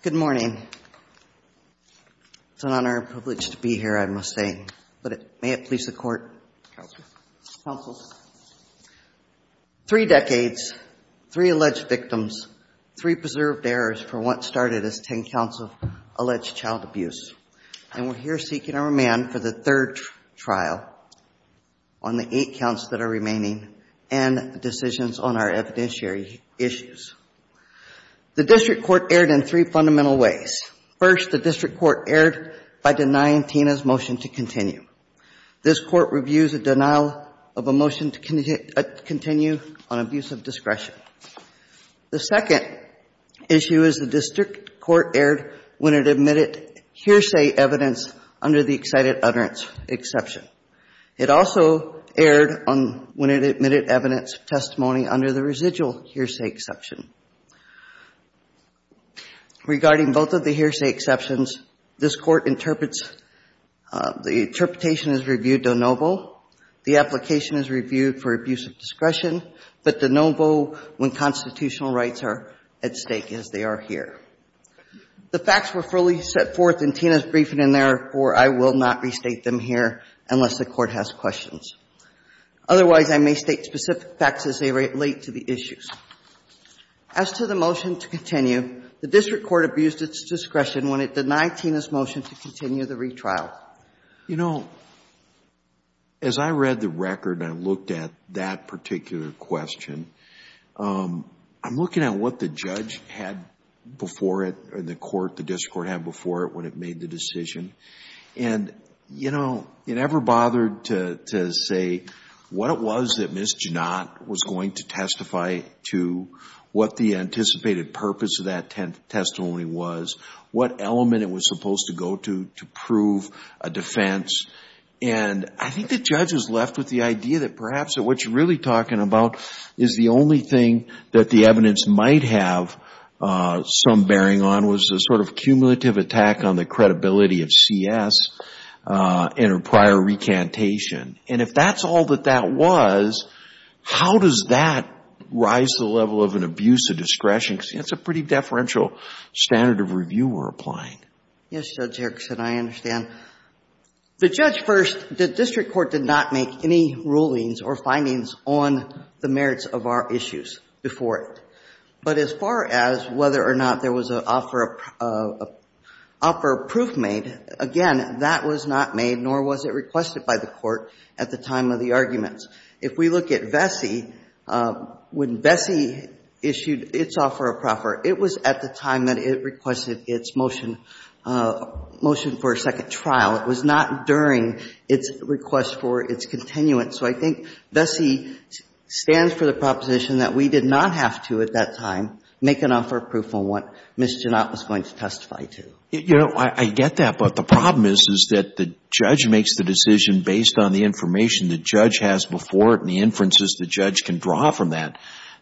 Good morning. It's an honor and privilege to be here, I must say. But may it please the Court. Counsel. Three decades, three alleged victims, three preserved heirs for what started as ten counts of alleged child abuse. And we're here seeking a remand for the third trial on the eight counts that are remaining and decisions on our evidentiary issues. The District Court erred in three fundamental ways. First, the District Court erred by denying Tina's motion to continue. This Court reviews a denial of a motion to continue on abuse of discretion. The second issue is the District Court erred when it admitted hearsay evidence under the excited utterance exception. It also erred when it admitted evidence of testimony under the residual hearsay exception. Regarding both of the hearsay exceptions, this Court interprets the interpretation is reviewed de novo. The application is reviewed for abuse of discretion, but de novo when constitutional rights are at stake, as they are here. The facts were fully set forth in Tina's briefing, and therefore, I will not restate them here unless the Court has questions. Otherwise, I may state specific facts as they relate to the issues. As to the motion to continue, the District Court abused its discretion when it denied Tina's motion to continue the retrial. You know, as I read the record and I looked at that particular question, I'm looking at what the judge had before it, or the court, the District Court had before it when it made the decision. And, you know, it never bothered to say what it was that Ms. Jannot was going to testify to, what the anticipated purpose of that testimony was, what element it was a defense. And I think the judge is left with the idea that perhaps what you're really talking about is the only thing that the evidence might have some bearing on was a sort of cumulative attack on the credibility of CS in a prior recantation. And if that's all that that was, how does that rise to the level of an abuse of discretion? Because that's a pretty deferential standard of review we're applying. Yes, Judge Erickson, I understand. The judge first, the District Court did not make any rulings or findings on the merits of our issues before it. But as far as whether or not there was an offer of proof made, again, that was not made, nor was it requested by the court at the time of the arguments. If we look at Vesey, when Vesey issued its offer of proffer, it was at the time that it requested its motion for a second trial. It was not during its request for its continuance. So I think Vesey stands for the proposition that we did not have to at that time make an offer of proof on what Ms. Jannot was going to testify to. You know, I get that. But the problem is, is that the judge makes the decision based on the information the judge has before it and the inferences the judge can draw from that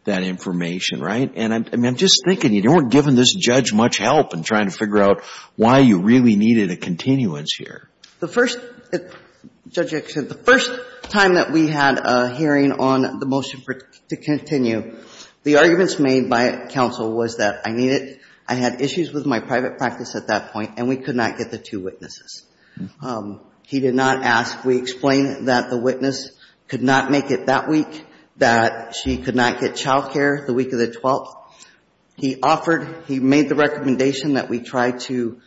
information, right? And I'm just thinking, you don't want to give this judge much help in trying to figure out why you really needed a continuance here. The first, Judge Erickson, the first time that we had a hearing on the motion to continue, the arguments made by counsel was that I needed, I had issues with my private practice at that point, and we could not get the two witnesses. He did not ask, we explained that the witness could not make it that week, that she could not get child care the week of the 12th. He offered, he made the recommendation that we try to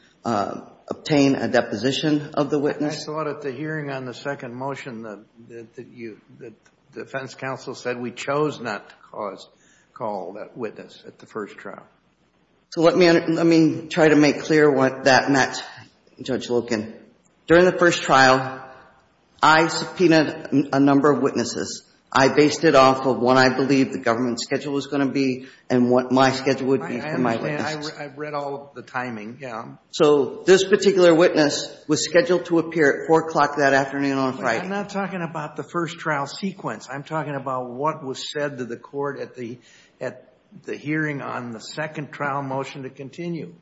obtain a deposition of the witness. I thought at the hearing on the second motion that you, that defense counsel said we chose not to call that witness at the first trial. So let me try to make clear what that meant, Judge Loken. During the first trial, I subpoenaed a number of witnesses. I based it off of what I believed the government schedule was going to be and what my schedule would be for my witnesses. I understand. I've read all of the timing, yeah. So this particular witness was scheduled to appear at 4 o'clock that afternoon on Friday. I'm not talking about the first trial sequence. I'm talking about what was said to the court at the hearing on the second trial motion to continue.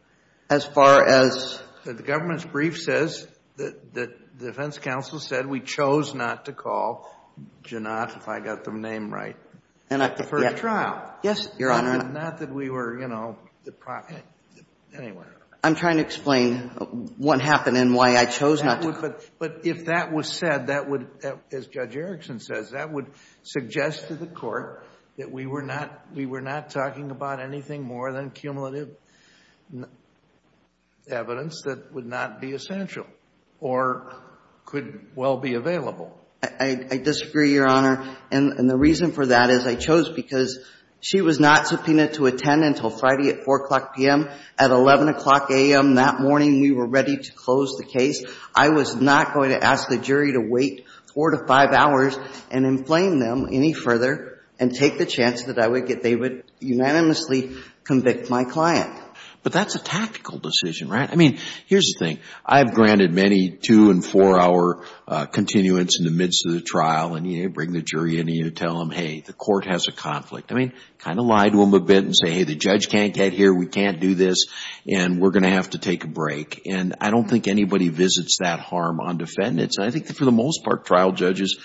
As far as? The government's brief says that the defense counsel said we chose not to call Janot, if I got the name right, for the trial. Yes, Your Honor. Not that we were, you know, the proxy. Anyway. I'm trying to explain what happened and why I chose not to call. But if that was said, that would, as Judge Erickson says, that would suggest to the court that we were not talking about anything more than cumulative evidence that would not be essential or could well be available. I disagree, Your Honor. And the reason for that is I chose because she was not subpoenaed to attend until Friday at 4 o'clock p.m. At 11 o'clock a.m. that morning, we were ready to close the case. I was not going to ask the jury to wait four to five hours and inflame them any further and take the chance that they would unanimously convict my client. But that's a tactical decision, right? I mean, here's the thing. I have granted many two and four-hour continuance in the midst of the trial, and you bring the jury in and you tell them, hey, the court has a conflict. I mean, kind of lie to them a bit and say, hey, the judge can't get here, we can't do this, and we're going to have to take a break. And I don't think anybody visits that harm on defendants. And I think that for the most part, trial judges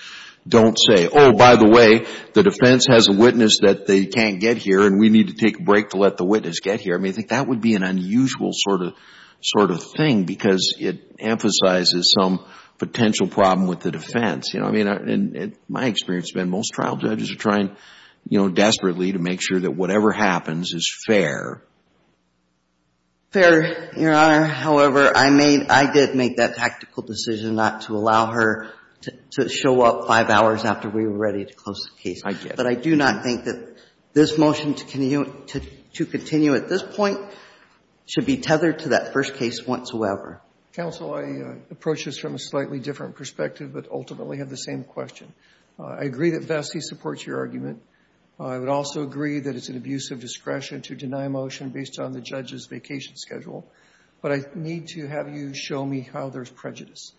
don't say, oh, by the way, the defense has a witness that they can't get here and we need to take a break to let the witness get here. I mean, I think that would be an unusual sort of thing because it emphasizes some potential problem with the defense. You know, I mean, in my experience, Ben, most trial judges are trying, you know, desperately to make sure that whatever happens is fair. Fair, Your Honor. However, I made, I did make that tactical decision not to allow her to show up five hours after we were ready to close the case. I did. But I do not think that this motion to continue at this point should be tethered to that first case whatsoever. Counsel, I approach this from a slightly different perspective, but ultimately have the same question. I agree that Vestey supports your argument. I would also agree that it's an abuse of discretion to deny a motion based on the judge's vacation schedule. But I need to have you show me how there's prejudice.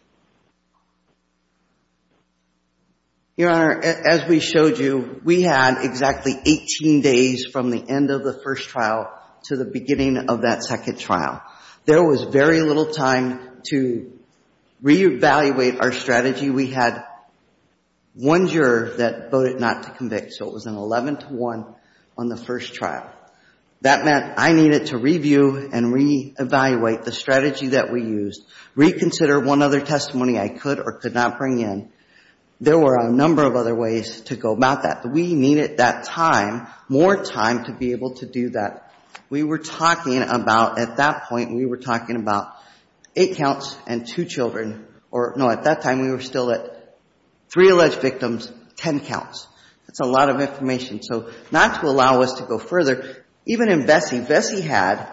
Your Honor, as we showed you, we had exactly 18 days from the end of the first trial to the beginning of that second trial. There was very little time to re-evaluate our strategy. We had one juror that voted not to convict, so it was an 11 to 1 on the first trial. That meant I needed to review and re-evaluate the strategy that we used, reconsider one other testimony I could or could not bring in. There were a number of other ways to go about that. We needed that time, more time, to be able to do that. We were talking about, at that point, we were talking about eight counts and two children, or no, at that time we were still at three alleged victims, ten counts. That's a lot of information. So not to allow us to go further, even in Vestey, Vestey had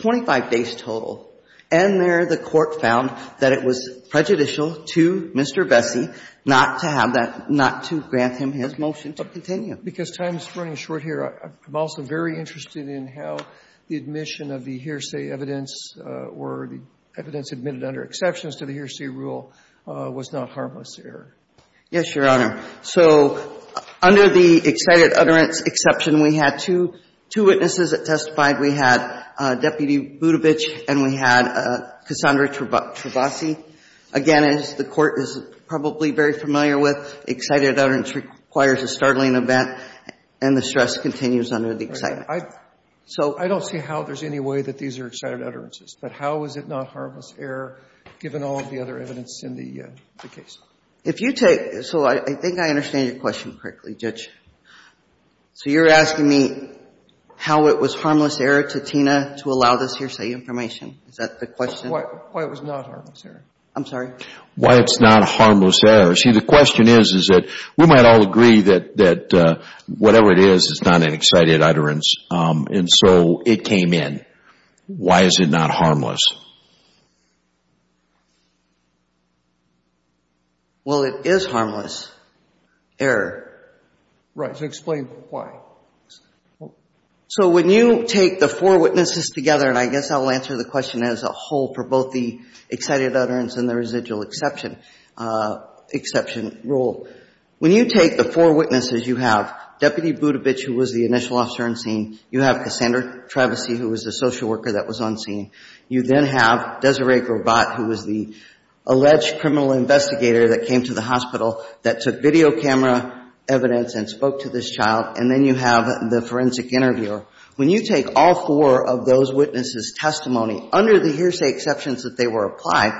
25 days total. And there the Court found that it was prejudicial to Mr. Vestey not to have that, not to grant him his motion to continue. Because time is running short here, I'm also very interested in how the admission of the hearsay evidence or the evidence admitted under exceptions to the hearsay rule was not harmless error. Yes, Your Honor. So under the excited utterance exception, we had two witnesses that testified. We had Deputy Budovich and we had Cassandra Travasi. Again, as the Court is probably very familiar with, excited utterance requires a startling event, and the stress continues under the excitement. So I don't see how there's any way that these are excited utterances. But how is it not harmless error, given all of the other evidence in the case? If you take – so I think I understand your question correctly, Judge. So you're asking me how it was harmless error to Tina to allow this hearsay information? Is that the question? Why it was not harmless error. I'm sorry? Why it's not harmless error. See, the question is, is that we might all agree that whatever it is, it's not an excited utterance. And so it came in. Why is it not harmless? Well, it is harmless error. Right. So explain why. So when you take the four witnesses together, and I guess I'll answer the question as a whole for both the excited utterance and the residual exception rule. When you take the four witnesses, you have Deputy Budovich, who was the initial officer on scene. You have Cassandra Travasi, who was the social worker that was on scene. You then have Desiree Grobat, who was the alleged criminal investigator that came to the hospital that took video camera evidence and spoke to this child. And then you have the forensic interviewer. When you take all four of those witnesses' testimony under the hearsay exceptions that they were applied,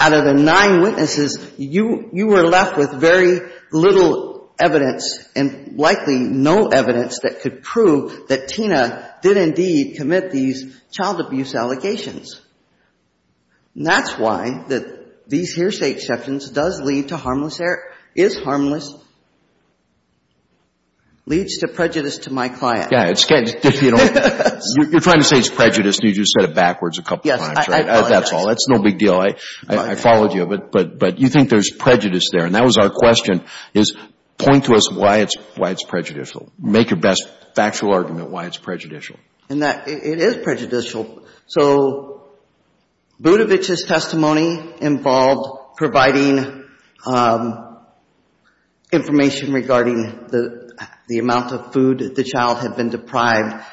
out of the nine witnesses, you were left with very little evidence and likely no evidence that could prove that Tina did indeed commit these child abuse allegations. And that's why that these hearsay exceptions does lead to harmless error, is harmless, leads to prejudice to my client. Yeah. You're trying to say it's prejudice, and you just said it backwards a couple times, right? Yes. I apologize. That's all. That's no big deal. I followed you. But you think there's prejudice there. And that was our question, is point to us why it's prejudicial. Make your best factual argument why it's prejudicial. It is prejudicial. So Budovic's testimony involved providing information regarding the amount of food that the child had been deprived,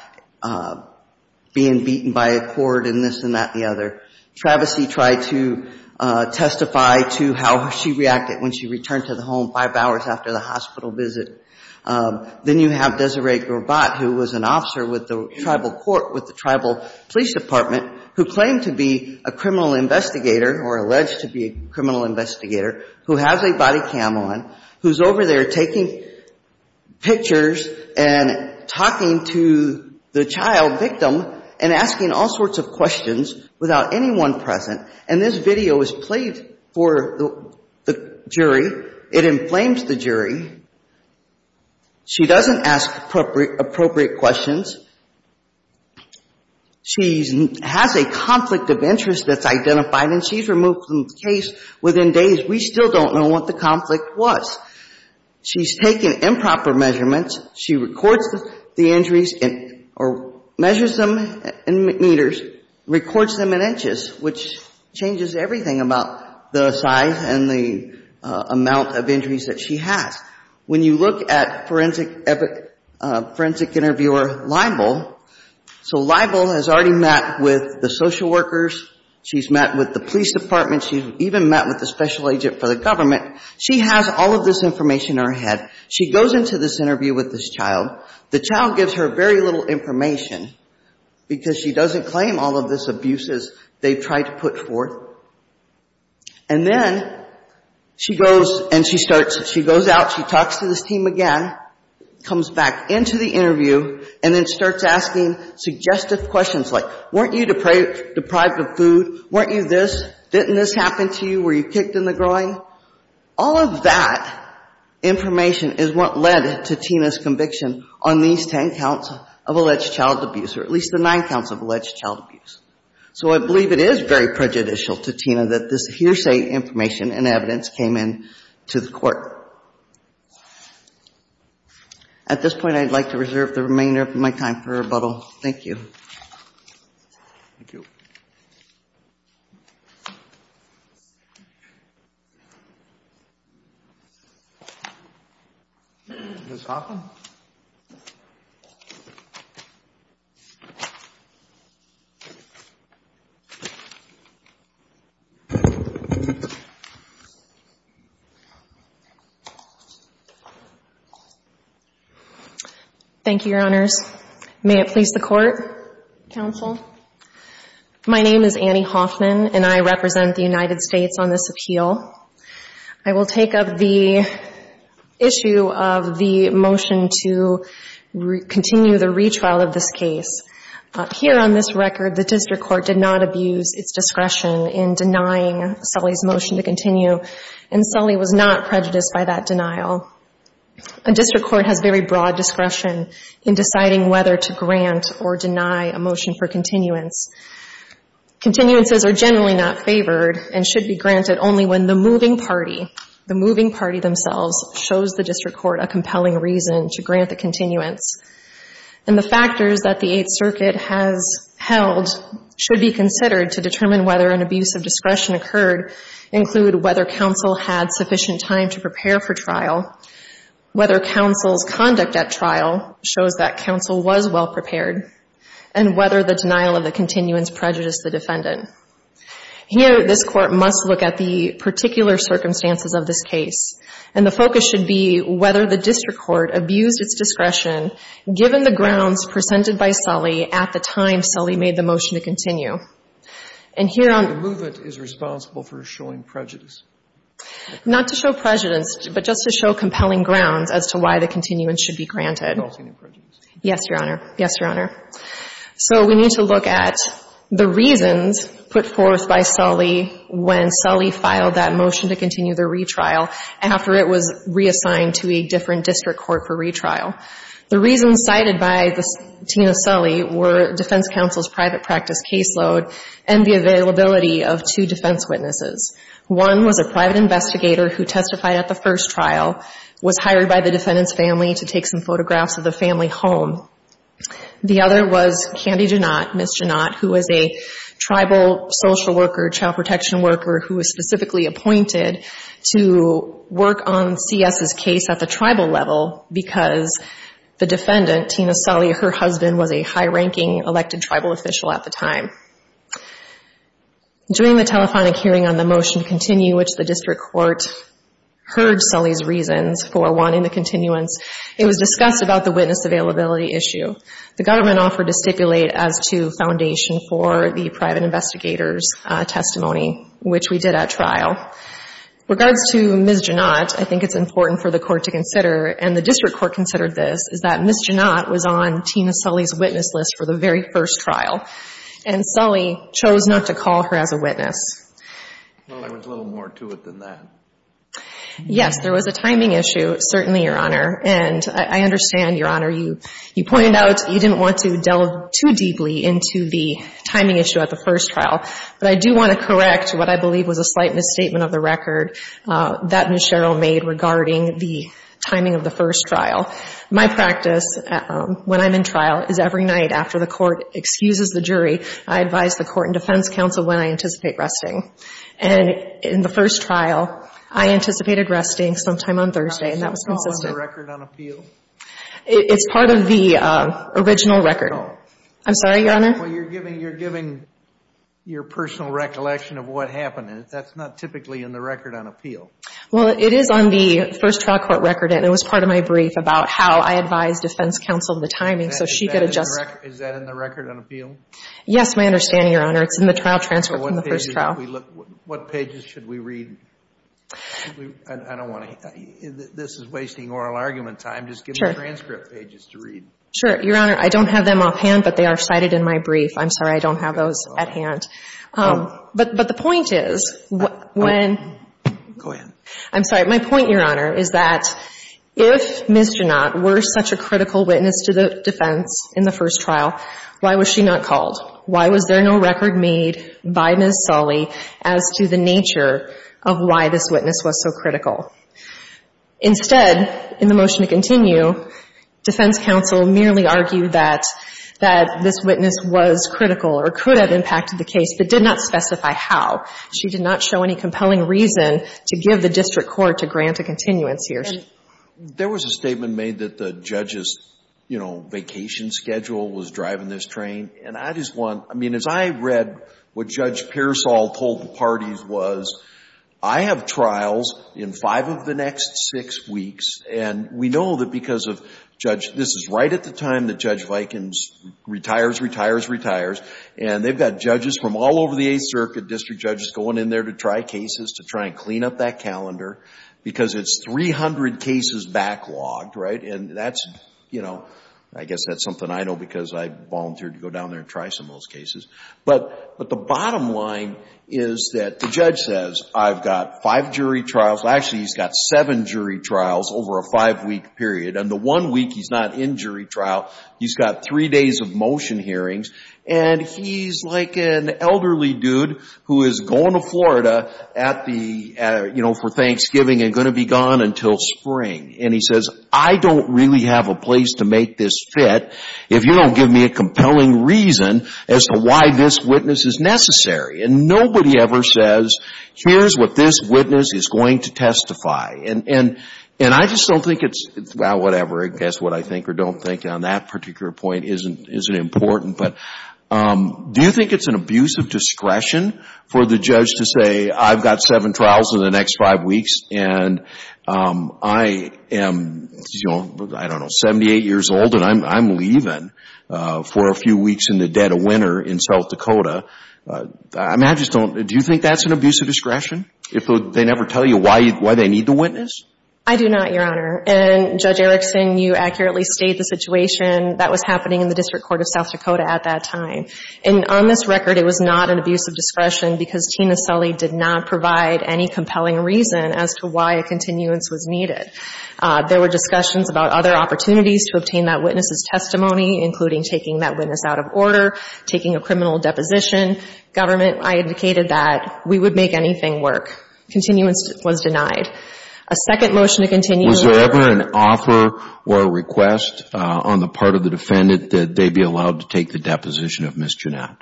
being beaten by a cord and this and that and the other. Travesee tried to testify to how she reacted when she returned to the home five hours after the hospital visit. Then you have Desiree Grobat, who was an officer with the tribal court, with the tribal police department, who claimed to be a criminal investigator or alleged to be a criminal investigator, who has a body cam on, who's over there taking pictures and talking to the child victim and asking all sorts of questions without anyone present. And this video was played for the jury. It inflames the jury. She doesn't ask appropriate questions. She has a conflict of interest that's identified, and she's removed from the case within days. We still don't know what the conflict was. She's taken improper measurements. She records the injuries or measures them in meters, records them in inches, which changes everything about the size and the amount of injuries that she has. When you look at forensic interviewer Leibel, so Leibel has already met with the social workers. She's met with the police department. She's even met with the special agent for the government. She has all of this information in her head. She goes into this interview with this child. The child gives her very little information because she doesn't claim all of this abuse as they've tried to put forth. And then she goes and she starts, she goes out, she talks to this team again, comes back into the interview, and then starts asking suggestive questions like, weren't you deprived of food? Weren't you this? Didn't this happen to you? Were you kicked in the groin? All of that information is what led to Tina's conviction on these ten counts of alleged child abuse, or at least the nine counts of alleged child abuse. So I believe it is very prejudicial to Tina that this hearsay information and evidence came in to the court. At this point, I'd like to reserve the remainder of my time for rebuttal. Thank you. Thank you. Ms. Hoffman? Thank you. Thank you, Your Honors. May it please the Court? Counsel. My name is Annie Hoffman, and I represent the United States on this appeal. I will take up the issue of the motion to continue the retrial of this case. Here on this record, the district court did not abuse its discretion in denying Sully's motion to continue, and Sully was not prejudiced by that denial. A district court has very broad discretion in deciding whether to grant or deny a motion for continuance. Continuances are generally not favored and should be considered. The moving party themselves shows the district court a compelling reason to grant the continuance, and the factors that the Eighth Circuit has held should be considered to determine whether an abuse of discretion occurred include whether counsel had sufficient time to prepare for trial, whether counsel's conduct at trial shows that counsel was well prepared, and whether the denial of I would like to look at the particular circumstances of this case, and the focus should be whether the district court abused its discretion given the grounds presented by Sully at the time Sully made the motion to continue. And here on the movement is responsible for showing prejudice. Not to show prejudice, but just to show compelling grounds as to why the continuance should be granted. Yes, Your Honor. Yes, Your Honor. So we need to look at the reasons put forth by Sully when Sully filed that motion to continue the retrial after it was reassigned to a different district court for retrial. The reasons cited by Tina Sully were defense counsel's private practice caseload and the availability of two defense witnesses. One was a private investigator who testified at the first trial, was the family home. The other was Candy Janot, Ms. Janot, who was a tribal social worker, child protection worker, who was specifically appointed to work on C.S.'s case at the tribal level because the defendant, Tina Sully, her husband was a high-ranking elected tribal official at the time. During the telephonic hearing on the motion to continue, which the district court heard Sully's reasons for wanting the continuance, it was discussed about the witness availability issue. The government offered to stipulate as to foundation for the private investigator's testimony, which we did at trial. Regards to Ms. Janot, I think it's important for the court to consider, and the district court considered this, is that Ms. Janot was on Tina Sully's witness list for the very first trial, and Sully chose not to call her as a witness. Well, there was a little more to it than that. Yes, there was a timing issue, certainly, Your Honor. And I understand, Your Honor, you pointed out you didn't want to delve too deeply into the timing issue at the first trial. But I do want to correct what I believe was a slight misstatement of the record that Ms. Sherrill made regarding the timing of the first trial. My practice when I'm in trial is every night after the court excuses the jury, I advise the court and defense counsel when I anticipate resting. And in the first trial, I anticipated resting sometime on Thursday, and that was consistent. Is the record on appeal? It's part of the original record. Oh. I'm sorry, Your Honor? Well, you're giving your personal recollection of what happened. That's not typically in the record on appeal. Well, it is on the first trial court record, and it was part of my brief about how I advised defense counsel of the timing so she could adjust. Is that in the record on appeal? Yes, my understanding, Your Honor. It's in the trial transcript from the first trial. What pages should we read? I don't want to – this is wasting oral argument time. Just give me transcript pages to read. Sure. Your Honor, I don't have them offhand, but they are cited in my brief. I'm sorry, I don't have those at hand. Oh. But the point is when – Go ahead. I'm sorry. My point, Your Honor, is that if Ms. Janot were such a critical witness to the defense in the first trial, why was she not called? Why was there no record made by Ms. Sully as to the nature of why this witness was so critical? Instead, in the motion to continue, defense counsel merely argued that this witness was critical or could have impacted the case but did not specify how. She did not show any compelling reason to give the district court to grant a continuance here. There was a statement made that the judge's, you know, vacation schedule was driving this train, and I just want – I mean, as I read what Judge Pearsall told the parties was, I have trials in five of the next six weeks, and we know that because of Judge – this is right at the time that Judge Vikins retires, retires, retires, and they've got judges from all over the Eighth Circuit, district judges going in there to try cases, to try and clean up that calendar, because it's 300 cases backlogged, right? And that's, you know, I guess that's something I know because I volunteered to go down there and try some of those cases. But the bottom line is that the judge says, I've got five jury trials – actually, he's got seven jury trials over a five-week period, and the one week he's not in jury trial, he's got three days of motion hearings, and he's like an elderly dude who is going to Florida at the – you know, for Thanksgiving and going to be gone until spring, and he says, I don't really have a place to make this fit if you don't give me a compelling reason as to why this witness is necessary. And nobody ever says, here's what this witness is going to testify. And I just don't think it's – well, whatever, I guess what I think or don't think on that particular point isn't important, but do you think it's an abuse of discretion for the judge to say, I've got seven trials in the next five weeks, and I am – I don't know, 78 years old, and I'm leaving for a few weeks in the dead of winter in South Dakota. I mean, I just don't – do you think that's an abuse of discretion if they never tell you why they need the witness? I do not, Your Honor. And Judge Erickson, you accurately state the situation that was happening in the District Court of South Dakota at that time. And on this record, it was not an abuse of discretion because Tina Sully did not provide any compelling reason as to why a continuance was needed. There were discussions about other opportunities to obtain that witness's testimony, including taking that witness out of order, taking a criminal deposition. Government – I indicated that we would make anything work. Continuance was denied. A second motion to continue – Was there ever an offer or a request on the part of the defendant that they be allowed to take the deposition of Ms. Jannat?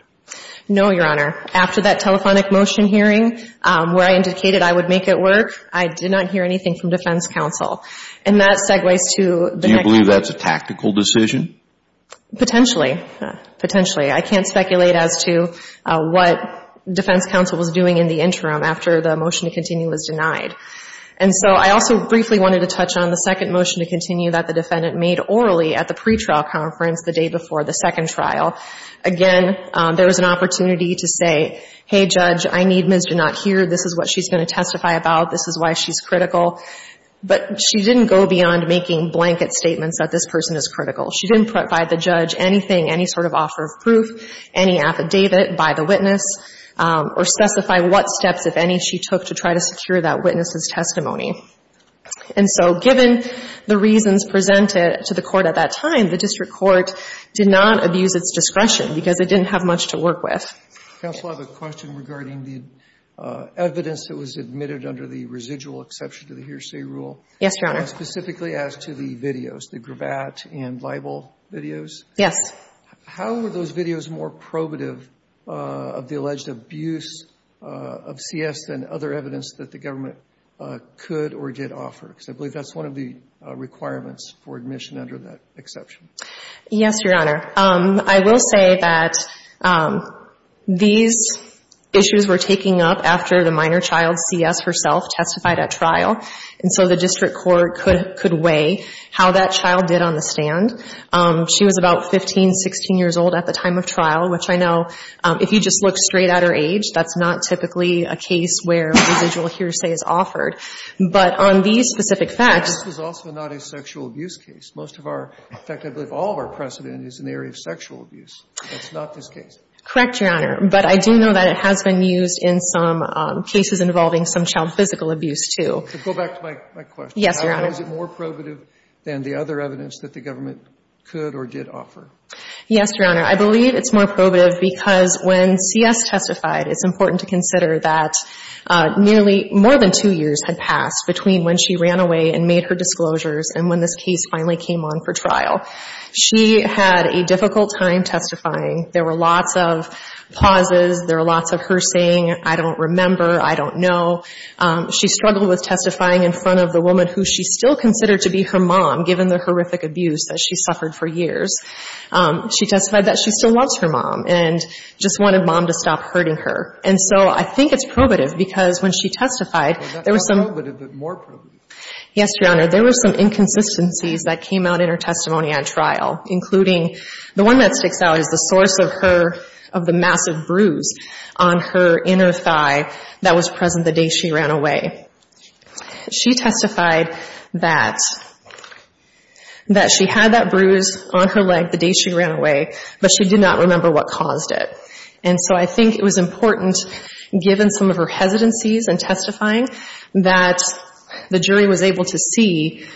No, Your Honor. After that telephonic motion hearing, where I indicated I would make it work, I did not hear anything from defense counsel. And that segues to – Do you believe that's a tactical decision? Potentially. Potentially. I can't speculate as to what defense counsel was doing in the interim after the motion to continue was denied. And so I also briefly wanted to touch on the second motion to continue that the defendant made orally at the pretrial conference the day before the second trial. Again, there was an opportunity to say, hey, Judge, I need Ms. Jannat here. This is what she's going to testify about. This is why she's critical. But she didn't go beyond making blanket statements that this person is critical. She didn't provide the judge anything, any sort of offer of proof, any affidavit by the witness, or specify what steps, if any, she took to try to secure that witness's testimony. And so given the reasons presented to the Court at that time, the District Court did not abuse its discretion because it didn't have the discretion and it didn't have much to work with. Counsel, I have a question regarding the evidence that was admitted under the residual exception to the hearsay rule. Yes, Your Honor. Specifically as to the videos, the gravat and libel videos. Yes. How were those videos more probative of the alleged abuse of CS than other evidence that the government could or did offer? Because I believe that's one of the requirements for admission under that exception. Yes, Your Honor. I will say that these issues were taken up after the minor child, CS, herself testified at trial. And so the District Court could weigh how that child did on the stand. She was about 15, 16 years old at the time of trial, which I know, if you just look straight at her age, that's not typically a case where residual hearsay is offered. But on these specific facts. This was also not a sexual abuse case. Most of our, in fact, I believe all of our precedent is in the area of sexual abuse. That's not this case. Correct, Your Honor. But I do know that it has been used in some cases involving some child physical abuse, too. To go back to my question. Yes, Your Honor. How is it more probative than the other evidence that the government could or did offer? Yes, Your Honor. I believe it's more probative because when CS testified, it's important to consider that nearly more than two years had passed between when she ran away and made her disclosures and when this case finally came on for trial. She had a difficult time testifying. There were lots of pauses. There were lots of her saying, I don't remember, I don't know. She struggled with testifying in front of the woman who she still considered to be her mom, given the horrific abuse that she suffered for years. She testified that she still loves her mom and just wanted mom to stop hurting her. And so I think it's probative because when she testified, there were some. Well, not probative, but more probative. Yes, Your Honor. There were some inconsistencies that came out in her testimony on trial, including the one that sticks out is the source of her, of the massive bruise on her inner thigh that was present the day she ran away. She testified that, that she had that bruise on her leg the day she ran away, but she did not remember what caused it. And so I think it was important, given some of her hesitancies in testifying, that the jury was able to see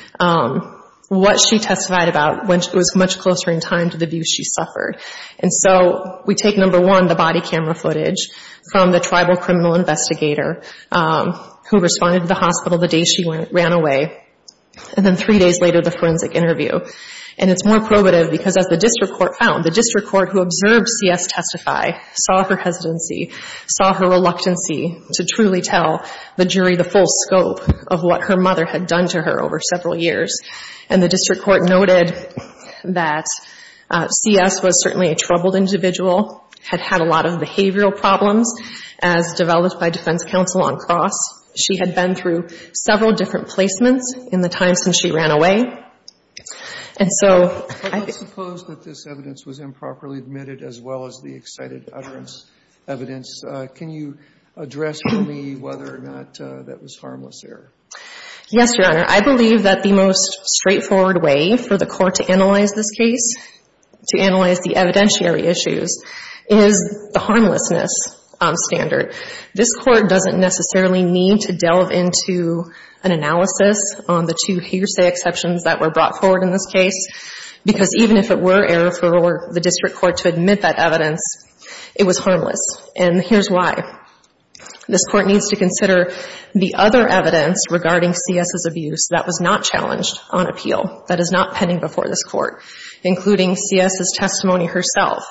what she testified about when it was much closer in time to the abuse she suffered. And so we take, number one, the body camera footage from the tribal criminal investigator who responded to the hospital the day she ran away, and then three days later, the forensic interview. And it's more probative because as the district court found, the district court who observed C.S. testify saw her hesitancy, saw her reluctancy to truly tell the jury the full scope of what her mother had done to her over several years. And the district court noted that C.S. was certainly a troubled individual, had had a lot of behavioral problems, as developed by defense counsel on cross. She had been through several different placements in the time since she ran away. And so I think... I don't suppose that this evidence was improperly admitted, as well as the excited utterance evidence. Can you address for me whether or not that was harmless error? Yes, Your Honor. I believe that the most straightforward way for the court to analyze this case, to analyze the evidentiary issues, is the harmlessness standard. This Court doesn't necessarily need to delve into an analysis on the two hearsay exceptions that were brought forward in this case, because even if it were error for the district court to admit that evidence, it was harmless. And here's why. This Court needs to consider the other evidence regarding C.S.'s abuse that was not challenged on appeal, that is not pending before this Court, including C.S.'s testimony herself,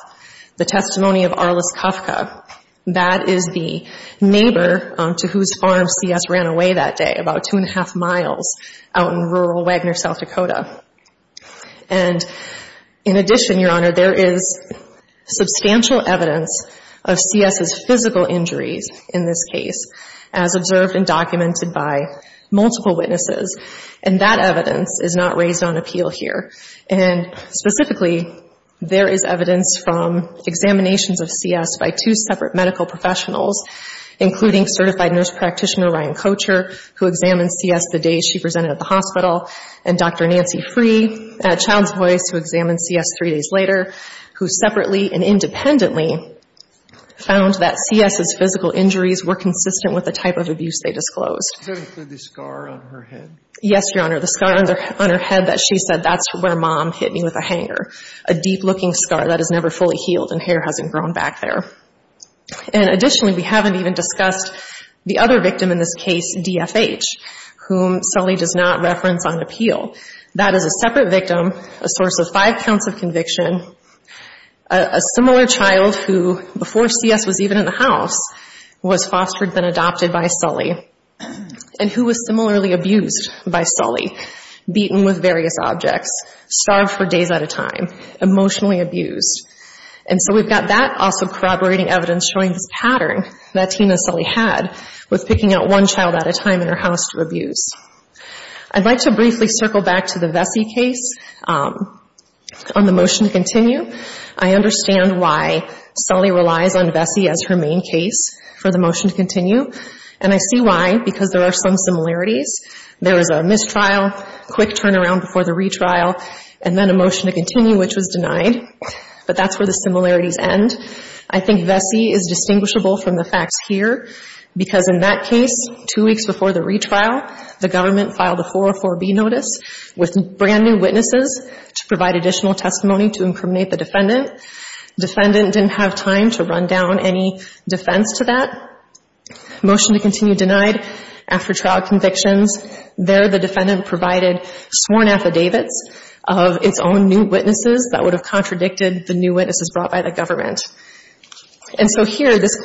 the testimony of Arliss Kafka. That is the neighbor to whose farm C.S. ran away that day, about two and a half miles out in rural Wagner, South Dakota. And in addition, Your Honor, there is substantial evidence of C.S.'s physical injuries in this case, as observed and documented by multiple witnesses. And that evidence is not raised on appeal here. And specifically, there is evidence from examinations of C.S. by two separate medical professionals, including certified nurse practitioner Ryan Kocher, who examined C.S. the day she presented at the hospital, and Dr. Nancy Free at Child's Voice, who examined C.S. three days later, who separately and independently found that C.S.'s physical injuries were consistent with the type of abuse they disclosed. Does that include the scar on her head? Yes, Your Honor. The scar on her head that she said, that's where mom hit me with a hanger. A deep-looking scar that has never fully healed and hair hasn't grown back there. And additionally, we haven't even discussed the other victim in this case, D.F.H., whom Sully does not reference on appeal. That is a separate victim, a source of five counts of conviction, a similar child who, before C.S. was even in the house, was fostered then adopted by Sully, and who was similarly abused by Sully, beaten with various objects, starved for days at a time, emotionally abused. And so we've got that, also corroborating evidence showing this pattern that Tina Sully had with picking out one child at a time in her house to abuse. I'd like to briefly circle back to the Vesey case on the motion to continue. I understand why Sully relies on Vesey as her main case for the motion to continue, and I see why, because there are some similarities. There was a mistrial, quick turnaround before the retrial, and then a motion to continue, which was denied. But that's where the similarities end. I think Vesey is distinguishable from the facts here, because in that case, two weeks before the retrial, the government filed a 404B notice with brand new witnesses to provide additional testimony to incriminate the defendant. Defendant didn't have time to run down any defense to that. Motion to continue denied after trial convictions. There, the defendant provided sworn affidavits of its own new witnesses that would have contradicted the new witnesses brought by the government. And so here, this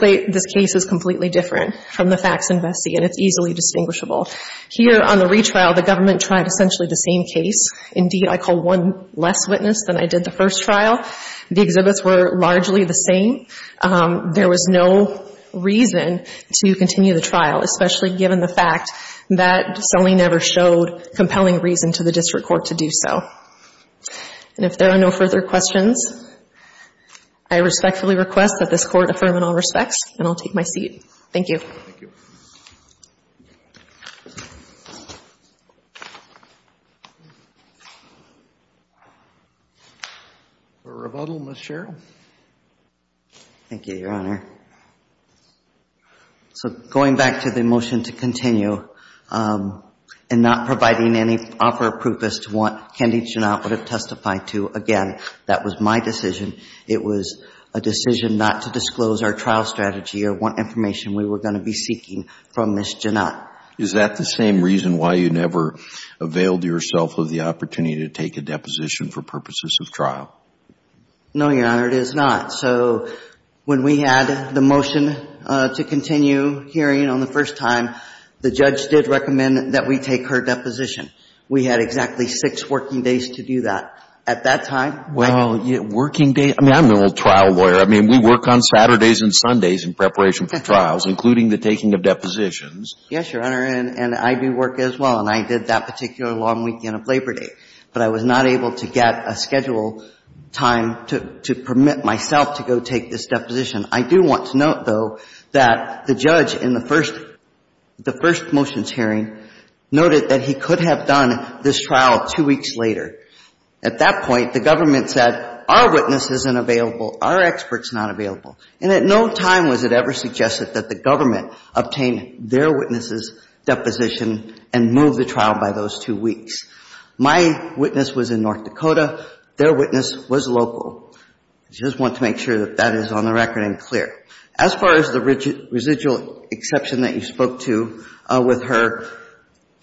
case is completely different from the facts in Vesey, and it's easily distinguishable. Here, on the retrial, the government tried essentially the same case. Indeed, I call one less witness than I did the first trial. The exhibits were largely the same. There was no reason to continue the trial, especially given the fact that Sully never showed compelling reason to the district court to do so. And if there are no further questions, I respectfully request that this court affirm in all respects, and I'll take my seat. Thank you. Thank you. For rebuttal, Ms. Sherrill. Thank you, Your Honor. So going back to the motion to continue and not providing any offer of proof as to what Kendi Janot would have testified to, again, that was my decision. It was a decision not to disclose our trial strategy or what information we were going to be seeking from Ms. Janot. Is that the same reason why you never availed yourself of the opportunity to take a deposition for purposes of trial? No, Your Honor, it is not. So when we had the motion to continue hearing on the first time, the judge did recommend that we take her deposition. We had exactly six working days to do that at that time. Well, working days? I mean, I'm no trial lawyer. I mean, we work on Saturdays and Sundays in preparation for trials, including the taking of depositions. Yes, Your Honor, and I do work as well, and I did that particular long weekend of Labor Day. But I was not able to get a schedule time to permit myself to go take this deposition. I do want to note, though, that the judge in the first motions hearing noted that he could have done this trial two weeks later. At that point, the government said, our witness isn't available, our expert's not available. And at no time was it ever suggested that the government obtain their witness's deposition and move the trial by those two weeks. My witness was in North Dakota. Their witness was local. I just want to make sure that that is on the record and clear. As far as the residual exception that you spoke to with her,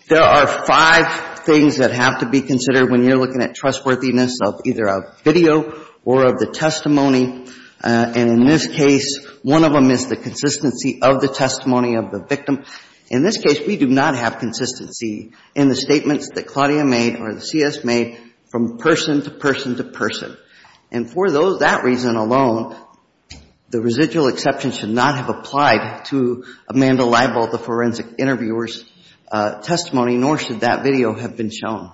there are five things that have to be considered when you're looking at trustworthiness of either a video or of the testimony. And in this case, one of them is the consistency of the testimony of the victim. In this case, we do not have consistency in the statements that Claudia made or that CS made from person to person to person. And for that reason alone, the residual exception should not have applied to Amanda Leibold, the forensic interviewer's testimony, nor should that video have been shown.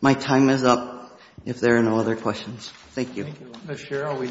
My time is up if there are no other questions. Thank you. Thank you.